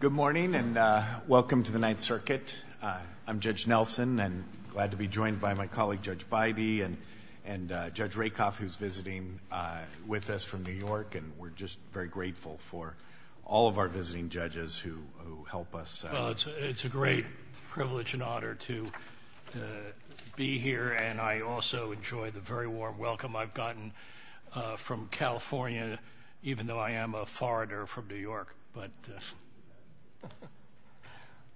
Good morning and welcome to the Ninth Circuit. I'm Judge Nelson and glad to be joined by my colleague Judge Beide and Judge Rakoff who's visiting with us from New York and we're just very grateful for all of our visiting judges who help us. It's a great privilege and honor to be here and I also enjoy the very warm welcome I've had, even though I am a foreigner from New York.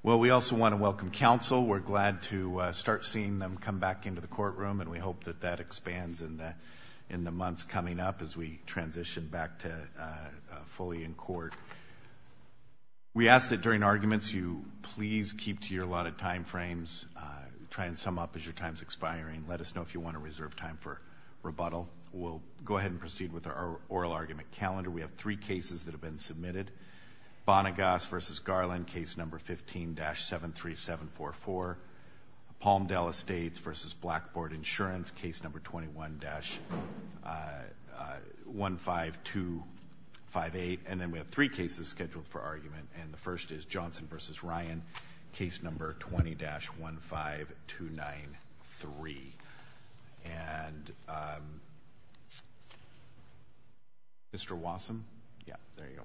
Well we also want to welcome counsel. We're glad to start seeing them come back into the courtroom and we hope that that expands in the months coming up as we transition back to fully in court. We ask that during arguments you please keep to your allotted time frames, try and sum up as your time's expiring. Let us know if you want to reserve time for rebuttal. We'll go ahead and proceed with our oral argument calendar. We have three cases that have been submitted. Bonagas v. Garland, case number 15-73744. Palmdale Estates v. Blackboard Insurance, case number 21-15258. And then we have three cases scheduled for argument and the first is Johnson v. Ryan, case number 20-15293. And Mr. Wassam? Yeah, there you go.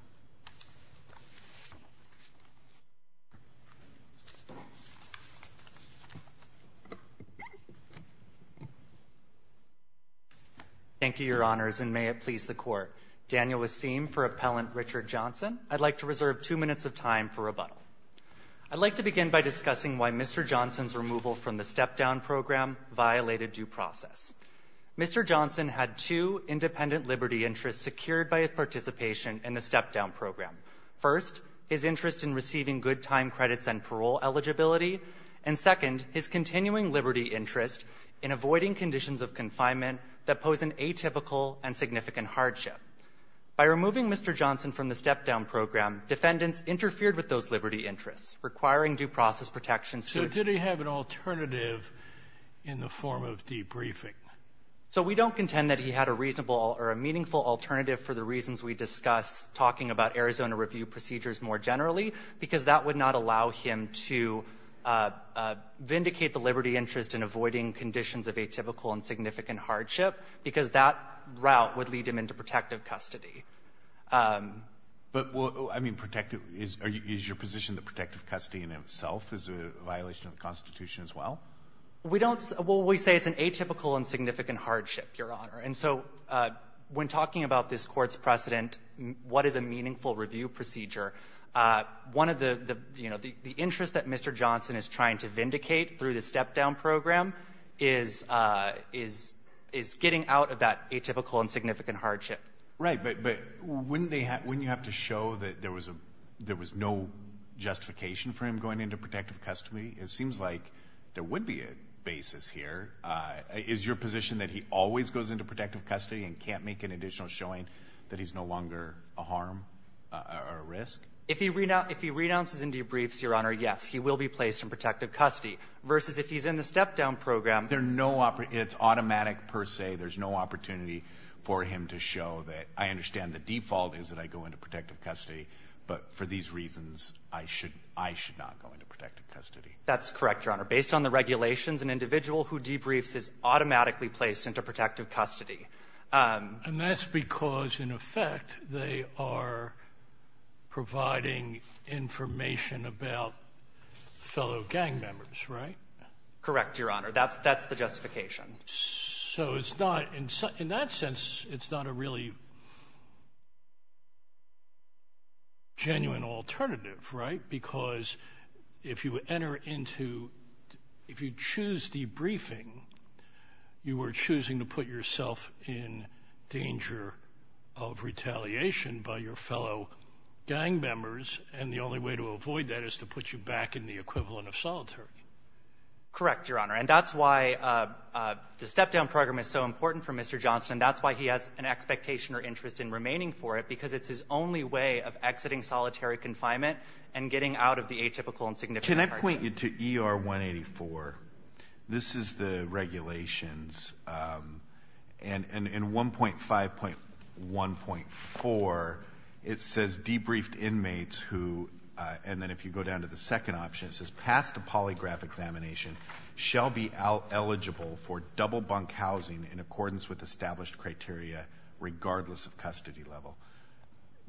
Thank you, your honors, and may it please the court. Daniel Wasim for Appellant Richard Johnson. I'd like to reserve two minutes of time for rebuttal. I'd like to begin by discussing why Mr. Johnson's removal from the step-down program violated due process. Mr. Johnson had two independent liberty interests secured by his participation in the step-down program. First, his interest in receiving good time credits and parole eligibility, and second, his continuing liberty interest in avoiding conditions of confinement that pose an atypical and significant hardship. By removing Mr. Johnson from the step-down program, defendants interfered with those liberty interests, requiring due process protections to achieve. So did he have an alternative in the form of debriefing? So we don't contend that he had a reasonable or a meaningful alternative for the reasons we discuss talking about Arizona review procedures more generally, because that would not allow him to vindicate the liberty interest in avoiding conditions of atypical and significant hardship, because that route would lead him into protective custody. But, well, I mean, protective — is your position that protective custody in and of itself is a violation of the Constitution as well? We don't — well, we say it's an atypical and significant hardship, Your Honor. And so when talking about this Court's precedent, what is a meaningful review procedure, one of the — you know, the interest that Mr. Johnson is trying to vindicate through the step-down program is — is getting out of that atypical and significant hardship. Right. But wouldn't they — wouldn't you have to show that there was a — there was no justification for him going into protective custody? It seems like there would be a basis here. Is your position that he always goes into protective custody and can't make an additional showing that he's no longer a harm or a risk? If he — if he renounces and debriefs, Your Honor, yes, he will be placed in protective custody, versus if he's in the step-down program — There are no — it's automatic per se. There's no opportunity for him to show that, I understand the default is that I go into protective custody, but for these reasons, I should — I should not go into protective custody. That's correct, Your Honor. Based on the regulations, an individual who debriefs is automatically placed into protective custody. And that's because, in effect, they are providing information about fellow gang members, right? Correct, Your Honor. That's — that's the justification. So it's not — in that sense, it's not a really genuine alternative, right? Because if you enter into — if you choose debriefing, you are choosing to put yourself in danger of retaliation by your fellow gang members, and the only way to avoid that is to put you back in the equivalent of solitary. Correct, Your Honor. And that's why the step-down program is so important for Mr. Johnston. That's why he has an expectation or interest in remaining for it, because it's his only way of exiting solitary confinement and getting out of the atypical and significant hardship. Can I point you to ER 184? This is the regulations, and in 1.5.1.4, it says debriefed inmates who — and then if you go down to the second option, it says passed a polygraph examination shall be eligible for double bunk housing in accordance with established criteria, regardless of custody level.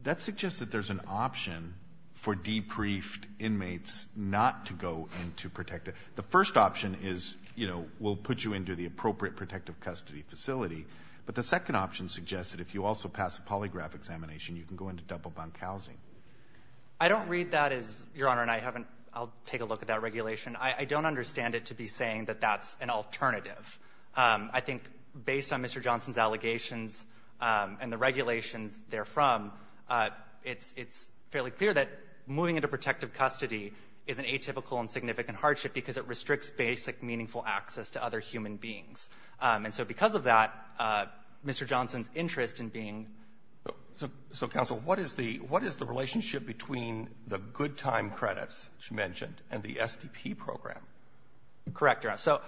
That suggests that there's an option for debriefed inmates not to go into protected — the first option is, you know, we'll put you into the appropriate protective custody facility, but the second option suggests that if you also pass a polygraph examination, you can go into double bunk housing. I don't read that as, Your Honor, and I haven't — I'll take a look at that regulation. I don't understand it to be saying that that's an alternative. I think based on Mr. Johnston's allegations and the regulations therefrom, it's — it's fairly clear that moving into protective custody is an atypical and significant hardship because it restricts basic meaningful access to other human beings. And so because of that, Mr. Johnston's interest in being — Roberts. So, counsel, what is the — what is the relationship between the good-time credits, which you mentioned, and the SDP program? Correct, Your Honor. So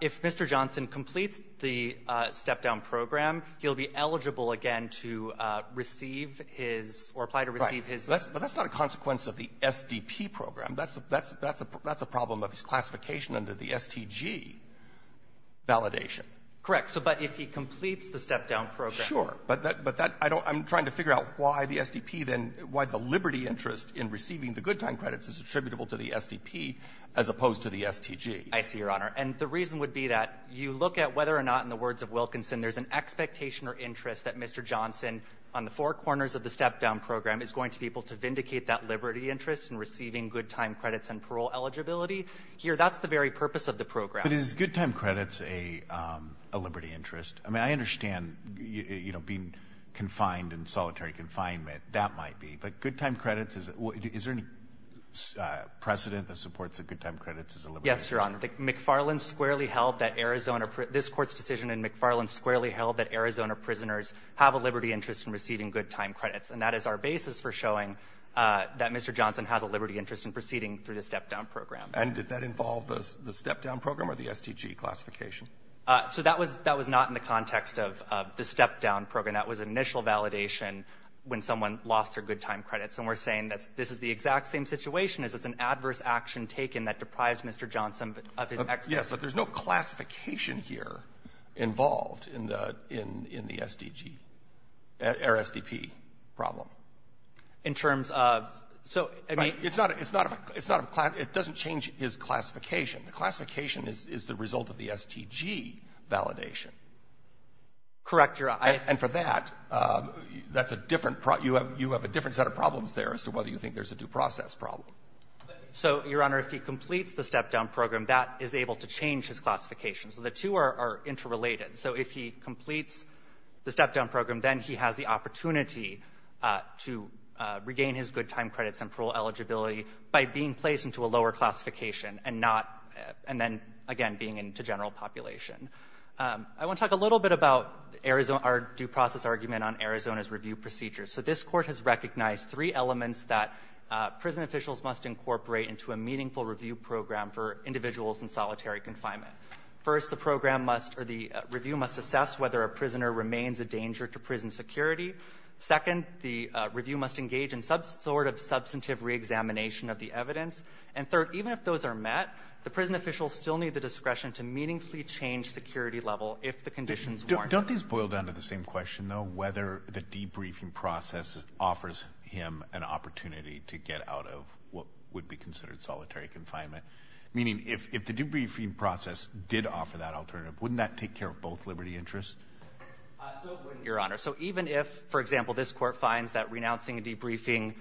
if Mr. Johnston completes the step-down program, he'll be eligible again to receive his — or apply to receive his — Right. But that's not a consequence of the SDP program. That's a — that's a — that's a problem of his classification under the STG validation. Correct. So but if he completes the step-down program — Sure. But that — but that — I don't — I'm trying to figure out why the SDP then — why the liberty interest in receiving the good-time credits is attributable to the SDP as opposed to the STG. I see, Your Honor. And the reason would be that you look at whether or not, in the words of Wilkinson, there's an expectation or interest that Mr. Johnston, on the four corners of the step-down program, is going to be able to vindicate that liberty interest in receiving good-time credits and parole eligibility. Here, that's the very purpose of the program. But is good-time credits a — a liberty interest? I mean, I understand, you know, being confined in solitary confinement, that might be. But good-time credits is — is there any precedent that supports that good-time credits is a liberty interest? Yes, Your Honor. McFarland squarely held that Arizona — this Court's decision in McFarland squarely held that Arizona prisoners have a liberty interest in receiving good-time credits. And that is our basis for showing that Mr. Johnston has a liberty interest in proceeding through the step-down program. And did that involve the — the step-down program or the STG classification? So that was — that was not in the context of — of the step-down program. That was an initial validation when someone lost their good-time credits. And we're saying that this is the exact same situation, is it's an adverse action taken that deprives Mr. Johnston of his expectation. Yes, but there's no classification here involved in the — in the STG or STP problem. In terms of — so, I mean — It's not a — it's not a — it's not a — it doesn't change his classification. The classification is — is the result of the STG validation. Correct, Your Honor. And for that, that's a different — you have — you have a different set of problems there as to whether you think there's a due process problem. So, Your Honor, if he completes the step-down program, that is able to change his classification. So the two are — are interrelated. So if he completes the step-down program, then he has the opportunity to regain his good-time credits and parole eligibility by being placed into a lower classification and not — and then, again, being into general population. I want to talk a little bit about Arizona — our due process argument on Arizona's review procedure. So this Court has recognized three elements that prison officials must incorporate into a meaningful review program for individuals in solitary confinement. First, the program must — or the review must assess whether a prisoner remains a danger to prison security. Second, the review must engage in some sort of substantive reexamination of the evidence. And third, even if those are met, the prison officials still need the discretion to meaningfully change security level if the conditions warrant it. Don't these boil down to the same question, though, whether the debriefing process offers him an opportunity to get out of what would be considered solitary confinement? Meaning, if the debriefing process did offer that alternative, wouldn't that take care of both liberty interests? So it wouldn't, Your Honor. So even if, for example, this Court finds that renouncing a debriefing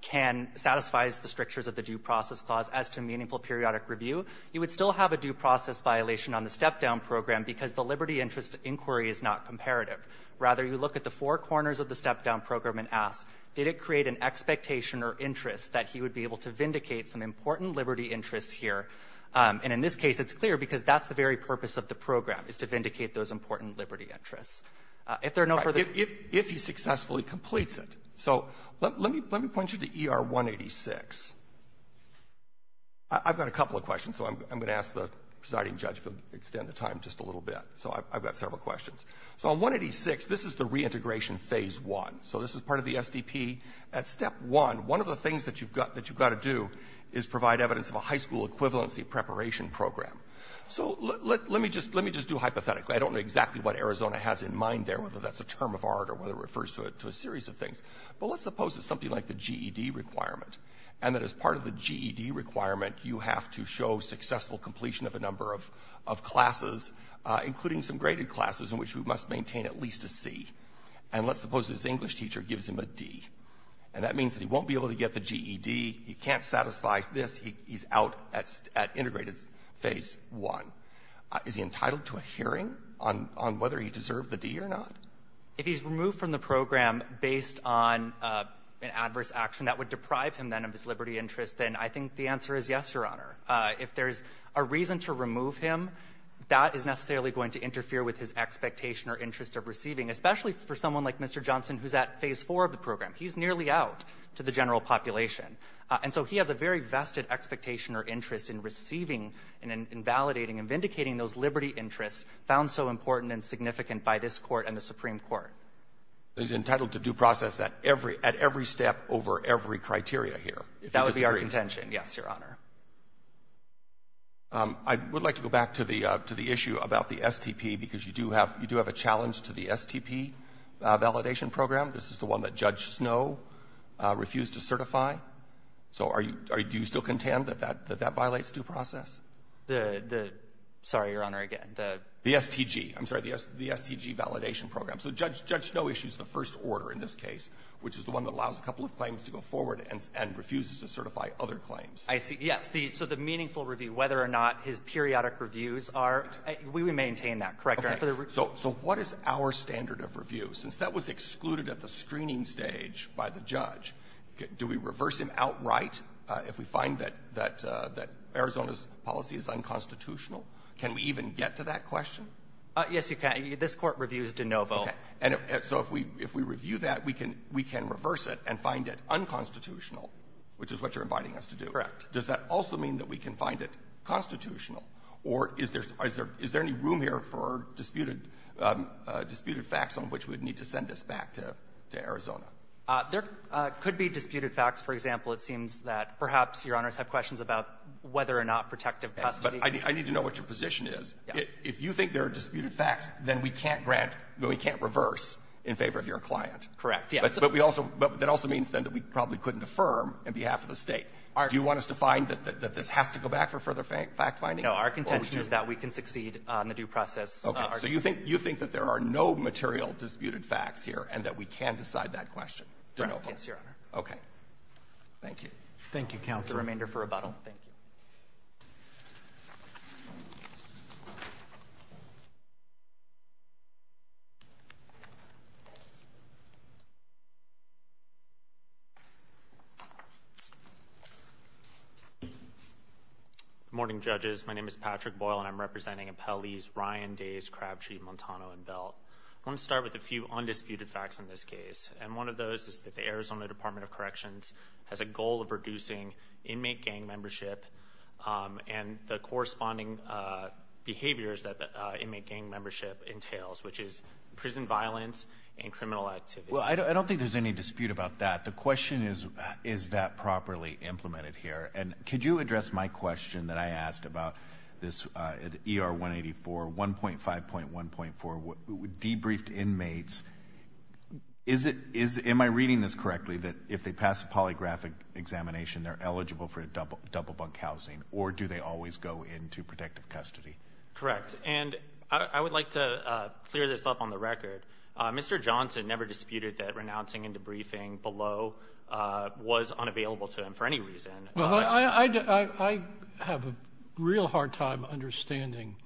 can — satisfies the strictures of the due process clause as to meaningful periodic review, you would still have a due process violation on the step-down program because the liberty interest inquiry is not comparative. Rather, you look at the four corners of the step-down program and ask, did it create an expectation or interest that he would be able to vindicate some important liberty interests here? And in this case, it's clear because that's the very purpose of the program, is to vindicate those important liberty interests. If there are no further — I've got a couple of questions, so I'm going to ask the presiding judge to extend the time just a little bit. So I've got several questions. So on 186, this is the reintegration phase one. So this is part of the SDP. At step one, one of the things that you've got to do is provide evidence of a high school equivalency preparation program. So let me just do hypothetically. I don't know exactly what Arizona has in mind there, whether that's a term of art or whether it refers to a series of things. But let's suppose it's something like the GED requirement, and that as part of the GED requirement, you have to show successful completion of a number of — of classes, including some graded classes in which we must maintain at least a C. And let's suppose this English teacher gives him a D, and that means that he won't be able to get the GED, he can't satisfy this, he's out at — at integrated phase one. Is he entitled to a hearing on — on whether he deserved the D or not? If he's removed from the program based on an adverse action that would deprive him, then, of his liberty interest, then I think the answer is yes, Your Honor. If there's a reason to remove him, that is necessarily going to interfere with his expectation or interest of receiving, especially for someone like Mr. Johnson, who's at phase four of the program. He's nearly out to the general population. And so he has a very vested expectation or interest in receiving and invalidating and vindicating those liberty interests found so important and significant by this Court and the Supreme Court. He's entitled to due process at every — at every step over every criteria here? That would be our contention, yes, Your Honor. I would like to go back to the — to the issue about the STP, because you do have — you do have a challenge to the STP validation program. This is the one that Judge Snow refused to certify. So are you — do you still contend that that — that that violates due process? The — the — sorry, Your Honor, again, the — the STG. I'm sorry, the — the STG validation program. So Judge — Judge Snow issues the first order in this case, which is the one that allows a couple of claims to go forward and — and refuses to certify other claims. I see. Yes. The — so the meaningful review, whether or not his periodic reviews are — we maintain that, correct, Your Honor? So what is our standard of review? Since that was excluded at the screening stage by the judge, do we reverse him outright if we find that — that Arizona's policy is unconstitutional? Can we even get to that question? Yes, you can. This Court reviews de novo. Okay. And so if we — if we review that, we can — we can reverse it and find it unconstitutional, which is what you're inviting us to do. Correct. Does that also mean that we can find it constitutional? Or is there — is there any room here for disputed — disputed facts on which we would need to send this back to — to Arizona? There could be disputed facts. For example, it seems that perhaps Your Honors have questions about whether or not protective custody — But I need to know what your position is. If you think there are disputed facts, then we can't grant — we can't reverse in favor of your client. Correct. Yes. But we also — but that also means, then, that we probably couldn't affirm on behalf of the State. Do you want us to find that this has to go back for further fact-finding? No. Our contention is that we can succeed on the due process argument. Okay. So you think — you think that there are no material disputed facts here and that we can decide that question? De novo. Yes, Your Honor. Okay. Thank you. Thank you, Counselor. That's the remainder for rebuttal. Thank you. Good morning, judges. My name is Patrick Boyle, and I'm representing appellees Ryan, Days, Crabtree, Montano, and Belt. I want to start with a few undisputed facts in this case. And one of those is that the Arizona Department of Corrections has a goal of and the corresponding behaviors that the inmate gang membership entails, which is prison violence and criminal activity. Well, I don't think there's any dispute about that. The question is, is that properly implemented here? And could you address my question that I asked about this ER-184, 1.5.1.4, debriefed inmates? Is it — am I reading this correctly, that if they pass a polygraphic examination, they're eligible for double bunk housing? Or do they always go into protective custody? Correct. And I would like to clear this up on the record. Mr. Johnson never disputed that renouncing and debriefing below was unavailable to him for any reason. Well, I have a real hard time understanding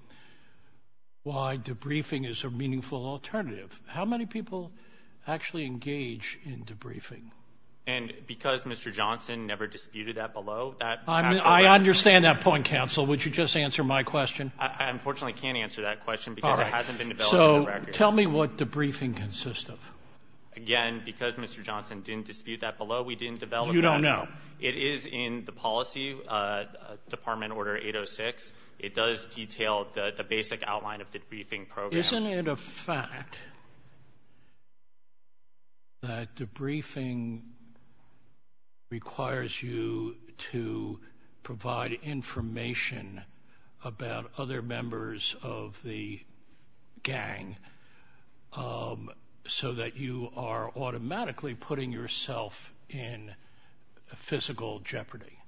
why debriefing is a meaningful alternative. How many people actually engage in debriefing? And because Mr. Johnson never disputed that below, that — I understand that point, counsel. Would you just answer my question? I unfortunately can't answer that question because it hasn't been developed on record. All right. So tell me what debriefing consists of. Again, because Mr. Johnson didn't dispute that below, we didn't develop that. You don't know. It is in the policy, Department Order 806. It does detail the basic outline of the debriefing program. Isn't it a fact that debriefing requires you to provide information about other members of the gang so that you are automatically putting yourself in physical jeopardy?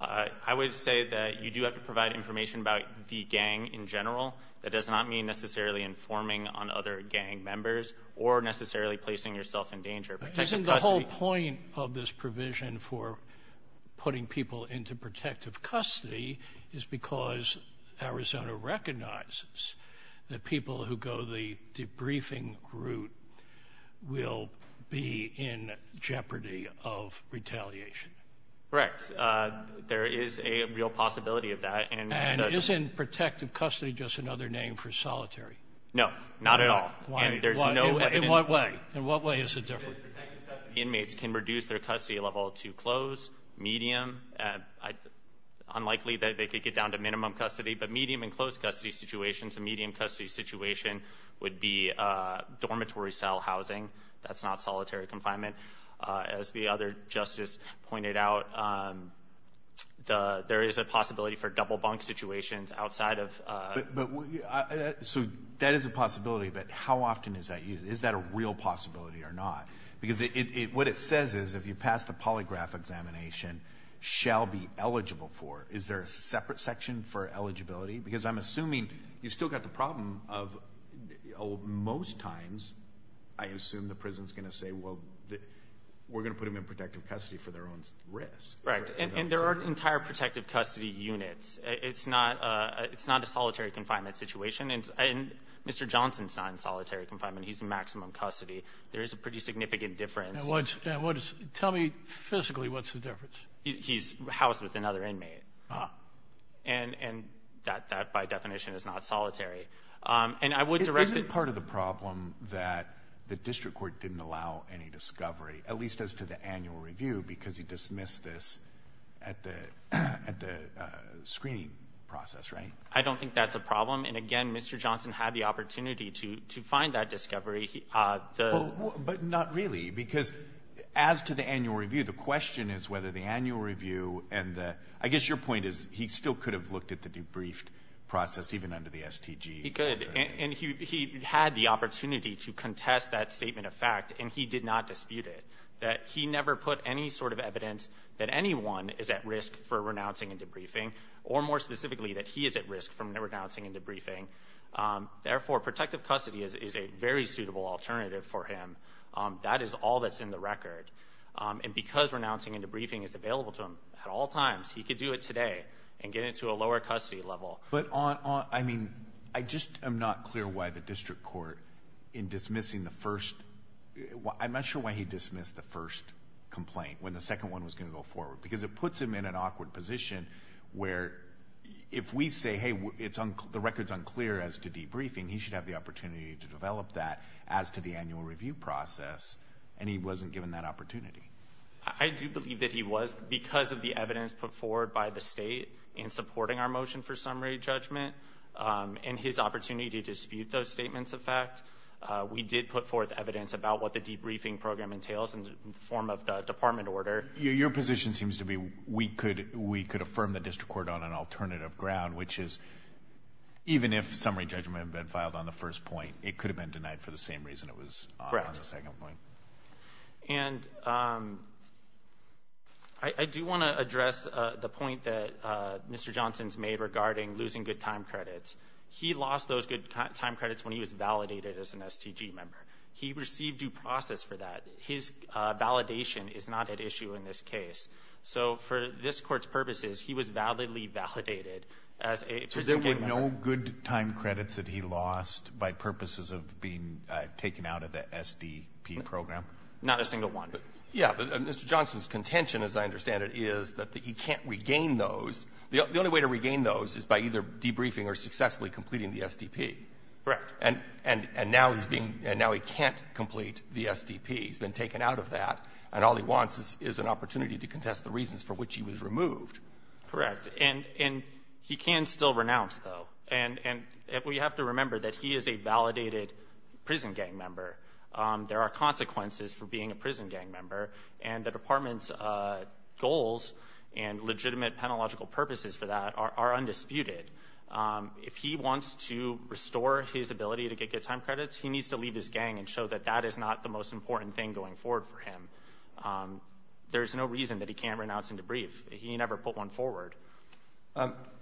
I would say that you do have to provide information about the gang in general. That does not mean necessarily informing on other gang members or necessarily placing yourself in danger. Isn't the whole point of this provision for putting people into protective custody is because Arizona recognizes that people who go the debriefing route will be in jeopardy of retaliation? Correct. There is a real possibility of that. And isn't protective custody just another name for solitary? No, not at all. Why? In what way? In what way is it different? Inmates can reduce their custody level to close, medium. Unlikely that they could get down to minimum custody, but medium and close custody situations. A medium custody situation would be dormitory cell housing. That's not solitary confinement. As the other justice pointed out, there is a possibility for double bunk situations outside of... So that is a possibility, but how often is that used? Is that a real possibility or not? Because what it says is if you pass the polygraph examination, shall be eligible for. Is there a separate section for eligibility? Because I'm assuming you've still got the problem of most times, I assume the prison's going to say, well, we're going to put them in protective custody for their own risk. Right. And there are entire protective custody units. It's not a solitary confinement situation. And Mr. Johnson's not in solitary confinement. He's in maximum custody. There is a pretty significant difference. Tell me physically, what's the difference? He's housed with another inmate. And that by definition is not solitary. And I would direct... Isn't part of the problem that the district court didn't allow any discovery, at least as to the annual review, because he dismissed this at the screening process, right? I don't think that's a problem. And again, Mr. Johnson had the opportunity to find that discovery. But not really, because as to the annual review, the question is whether the annual review and the... I guess your point is he still could have looked at the debriefed process, even under the STG. He could. And he had the opportunity to contest that statement of fact, and he did not dispute it. That he never put any sort of evidence that anyone is at risk for renouncing and debriefing, or more specifically, that he is at risk from renouncing and debriefing. Therefore, protective custody is a very suitable alternative for him. That is all that's in the record. And because renouncing and debriefing is available to him at all times, he could do it today and get into a lower custody level. But on... I mean, I just am not clear why the district court, in dismissing the first... I'm not sure why he dismissed the first complaint when the second one was going to go forward. Because it puts him in an awkward position, where if we say, hey, the record's unclear as to debriefing, he should have the opportunity to develop that as to the annual review process. And he wasn't given that opportunity. I do believe that he was, because of the evidence put forward by the state in supporting our motion for summary judgment, and his opportunity to dispute those statements of fact, we did put forth evidence about what the debriefing program entails in the form of the department order. Your position seems to be, we could affirm the district court on an alternative ground, which is, even if summary judgment had been filed on the first point, it could have been denied for the same reason it was on the second point. And I do want to address the point that Mr. Johnson's made regarding losing good time credits. He lost those good time credits when he was validated as an STG member. He received due process for that. His validation is not at issue in this case. So for this court's purposes, he was validly validated as a... But there were no good time credits that he lost by purposes of being taken out of the SDP program? Not a single one. Yeah. Mr. Johnson's contention, as I understand it, is that he can't regain those. The only way to regain those is by either debriefing or successfully completing the SDP. Correct. And now he's being — and now he can't complete the SDP. He's been taken out of that. And all he wants is an opportunity to contest the reasons for which he was removed. Correct. And he can still renounce, though. And we have to remember that he is a validated prison gang member. There are consequences for being a prison gang member. And the department's goals and legitimate, penalogical purposes for that are undisputed. If he wants to restore his ability to get good time credits, he needs to leave his gang and show that that is not the most important thing going forward for him. There's no reason that he can't renounce and debrief. He never put one forward.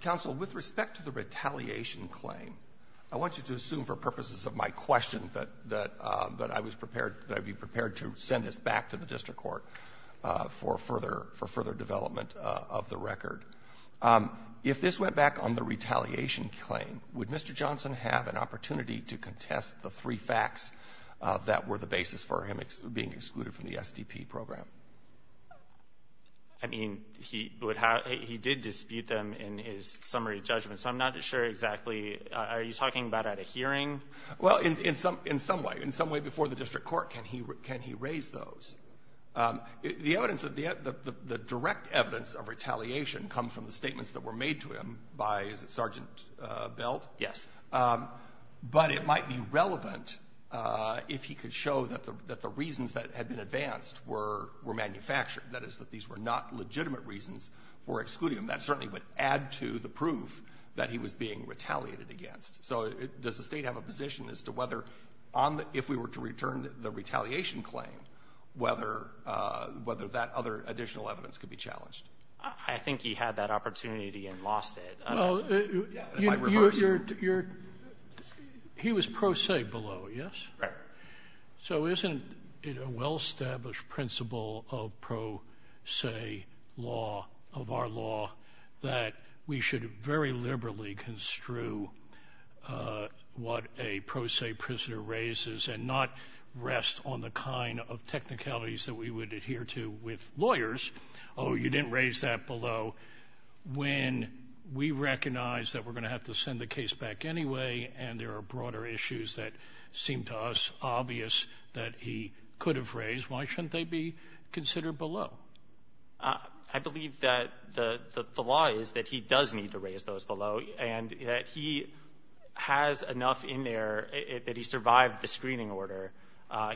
Counsel, with respect to the retaliation claim, I want you to assume for purposes of my question that I was prepared — that I'd be prepared to send this back to the district court for further — for further development of the record. If this went back on the retaliation claim, would Mr. Johnson have an opportunity to contest the three facts that were the basis for him being excluded from the SDP program? I mean, he would have — he did dispute them in his summary judgment. So I'm not sure exactly — are you talking about at a hearing? Well, in some — in some way. In some way before the district court, can he — can he raise those? The evidence — the direct evidence of retaliation comes from the statements that were made to him by — is it Sergeant Belt? Yes. But it might be relevant if he could show that the reasons that had been advanced were — were manufactured. That is, that these were not legitimate reasons for excluding him. That certainly would add to the proof that he was being retaliated against. So does the State have a position as to whether on the — if we were to return the retaliation claim, whether — whether that other additional evidence could be challenged? I think he had that opportunity and lost it. Well, you're — he was pro se below, yes? Right. So isn't it a well-established principle of pro se law — of our law that we should very liberally construe what a pro se prisoner raises and not rest on the kind of technicalities that we would adhere to with lawyers? Oh, you didn't raise that below. When we recognize that we're going to have to send the case back anyway and there are obvious that he could have raised, why shouldn't they be considered below? I believe that the law is that he does need to raise those below and that he has enough in there that he survived the screening order.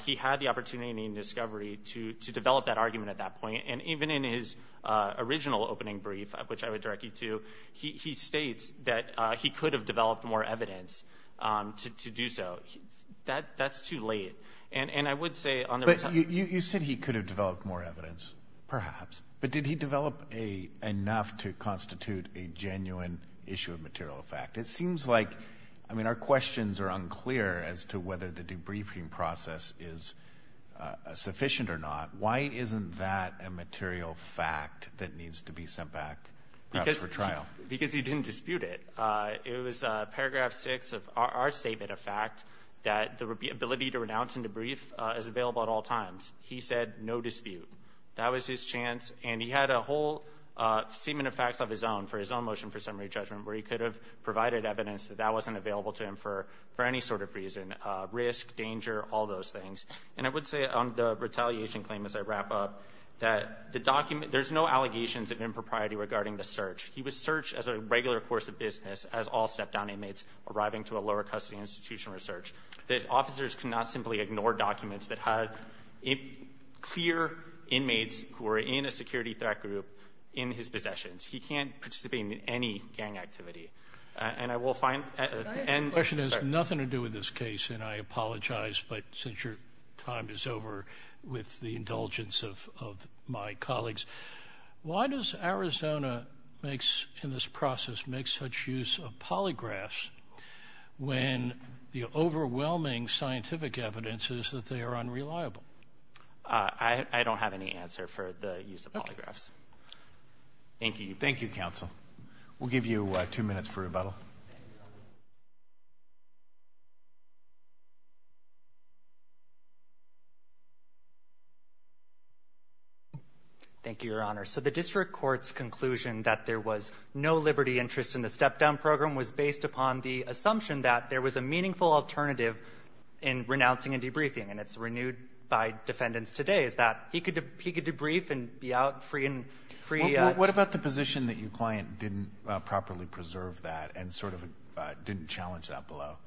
He had the opportunity in discovery to develop that argument at that point. And even in his original opening brief, which I would direct you to, he states that he could have developed more evidence to do so. That's too late. And I would say on the — But you said he could have developed more evidence, perhaps. But did he develop enough to constitute a genuine issue of material fact? It seems like — I mean, our questions are unclear as to whether the debriefing process is sufficient or not. Why isn't that a material fact that needs to be sent back perhaps for trial? Because he didn't dispute it. It was paragraph 6 of our statement of fact that the ability to renounce and debrief is available at all times. He said no dispute. That was his chance. And he had a whole statement of facts of his own for his own motion for summary judgment where he could have provided evidence that that wasn't available to him for any sort of reason — risk, danger, all those things. And I would say on the retaliation claim, as I wrap up, that the document — there's no allegations of impropriety regarding the search. He was searched as a regular course of business as all step-down inmates arriving to a lower custody institution for search. The officers could not simply ignore documents that had clear inmates who were in a security threat group in his possessions. He can't participate in any gang activity. And I will find — The question has nothing to do with this case. And I apologize, but since your time is over, with the indulgence of my colleagues, why does Arizona makes — in this process makes such use of polygraphs when the overwhelming scientific evidence is that they are unreliable? I don't have any answer for the use of polygraphs. Thank you. Thank you, counsel. We'll give you two minutes for rebuttal. Thank you, Your Honor. So the district court's conclusion that there was no liberty interest in the step-down program was based upon the assumption that there was a meaningful alternative in renouncing and debriefing. And it's renewed by defendants today, is that he could debrief and be out free and free — What about the position that your client didn't properly preserve that? And sort of didn't challenge that below?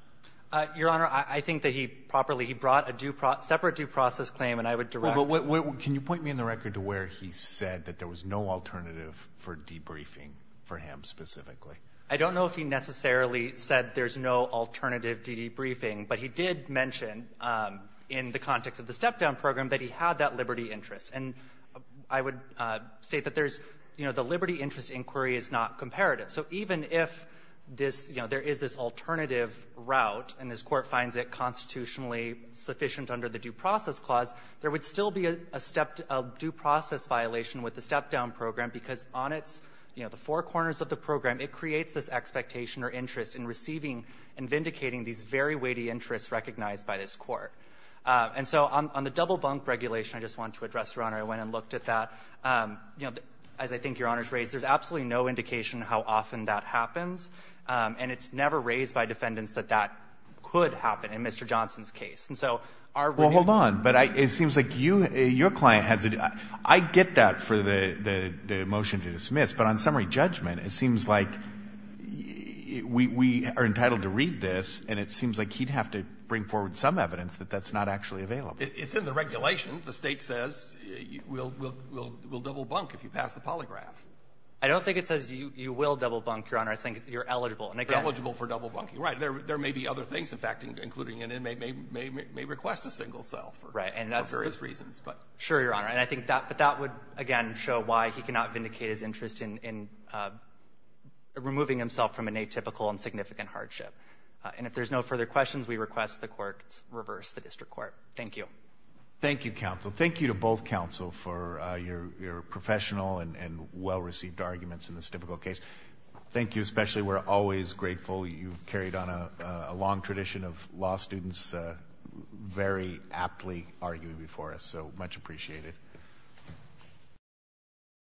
Your Honor, I think that he properly — he brought a separate due process claim, and I would direct — But can you point me in the record to where he said that there was no alternative for debriefing for him specifically? I don't know if he necessarily said there's no alternative to debriefing, but he did mention in the context of the step-down program that he had that liberty interest. And I would state that there's — you know, the liberty interest inquiry is not comparative. So even if this — you know, there is this alternative route, and this Court finds it constitutionally sufficient under the Due Process Clause, there would still be a step — a due process violation with the step-down program, because on its — you know, the four corners of the program, it creates this expectation or interest in receiving and vindicating these very weighty interests recognized by this Court. And so on the double bunk regulation, I just wanted to address, Your Honor, I went and looked at that. You know, as I think Your Honor's raised, there's absolutely no indication how often that happens, and it's never raised by defendants that that could happen in Mr. Johnson's case. And so our — Well, hold on. But I — it seems like you — your client has a — I get that for the — the motion to dismiss, but on summary judgment, it seems like we — we are entitled to read this, and it seems like he'd have to bring forward some evidence that that's not actually available. It's in the regulation. The State says we'll — we'll double bunk if you pass the polygraph. I don't think it says you will double bunk, Your Honor. I think you're eligible. And again — You're eligible for double bunking. Right. There — there may be other things, in fact, including an inmate may — may request a single cell for various reasons. Right. And that's — sure, Your Honor. And I think that — but that would, again, show why he cannot vindicate his interest in — in removing himself from an atypical and significant hardship. And if there's no further questions, we request the Court reverse the district court. Thank you. Thank you, counsel. Thank you to both counsel for your — your professional and well-received arguments in this difficult case. Thank you especially. We're always grateful. You've carried on a long tradition of law students very aptly arguing before us, so much appreciated.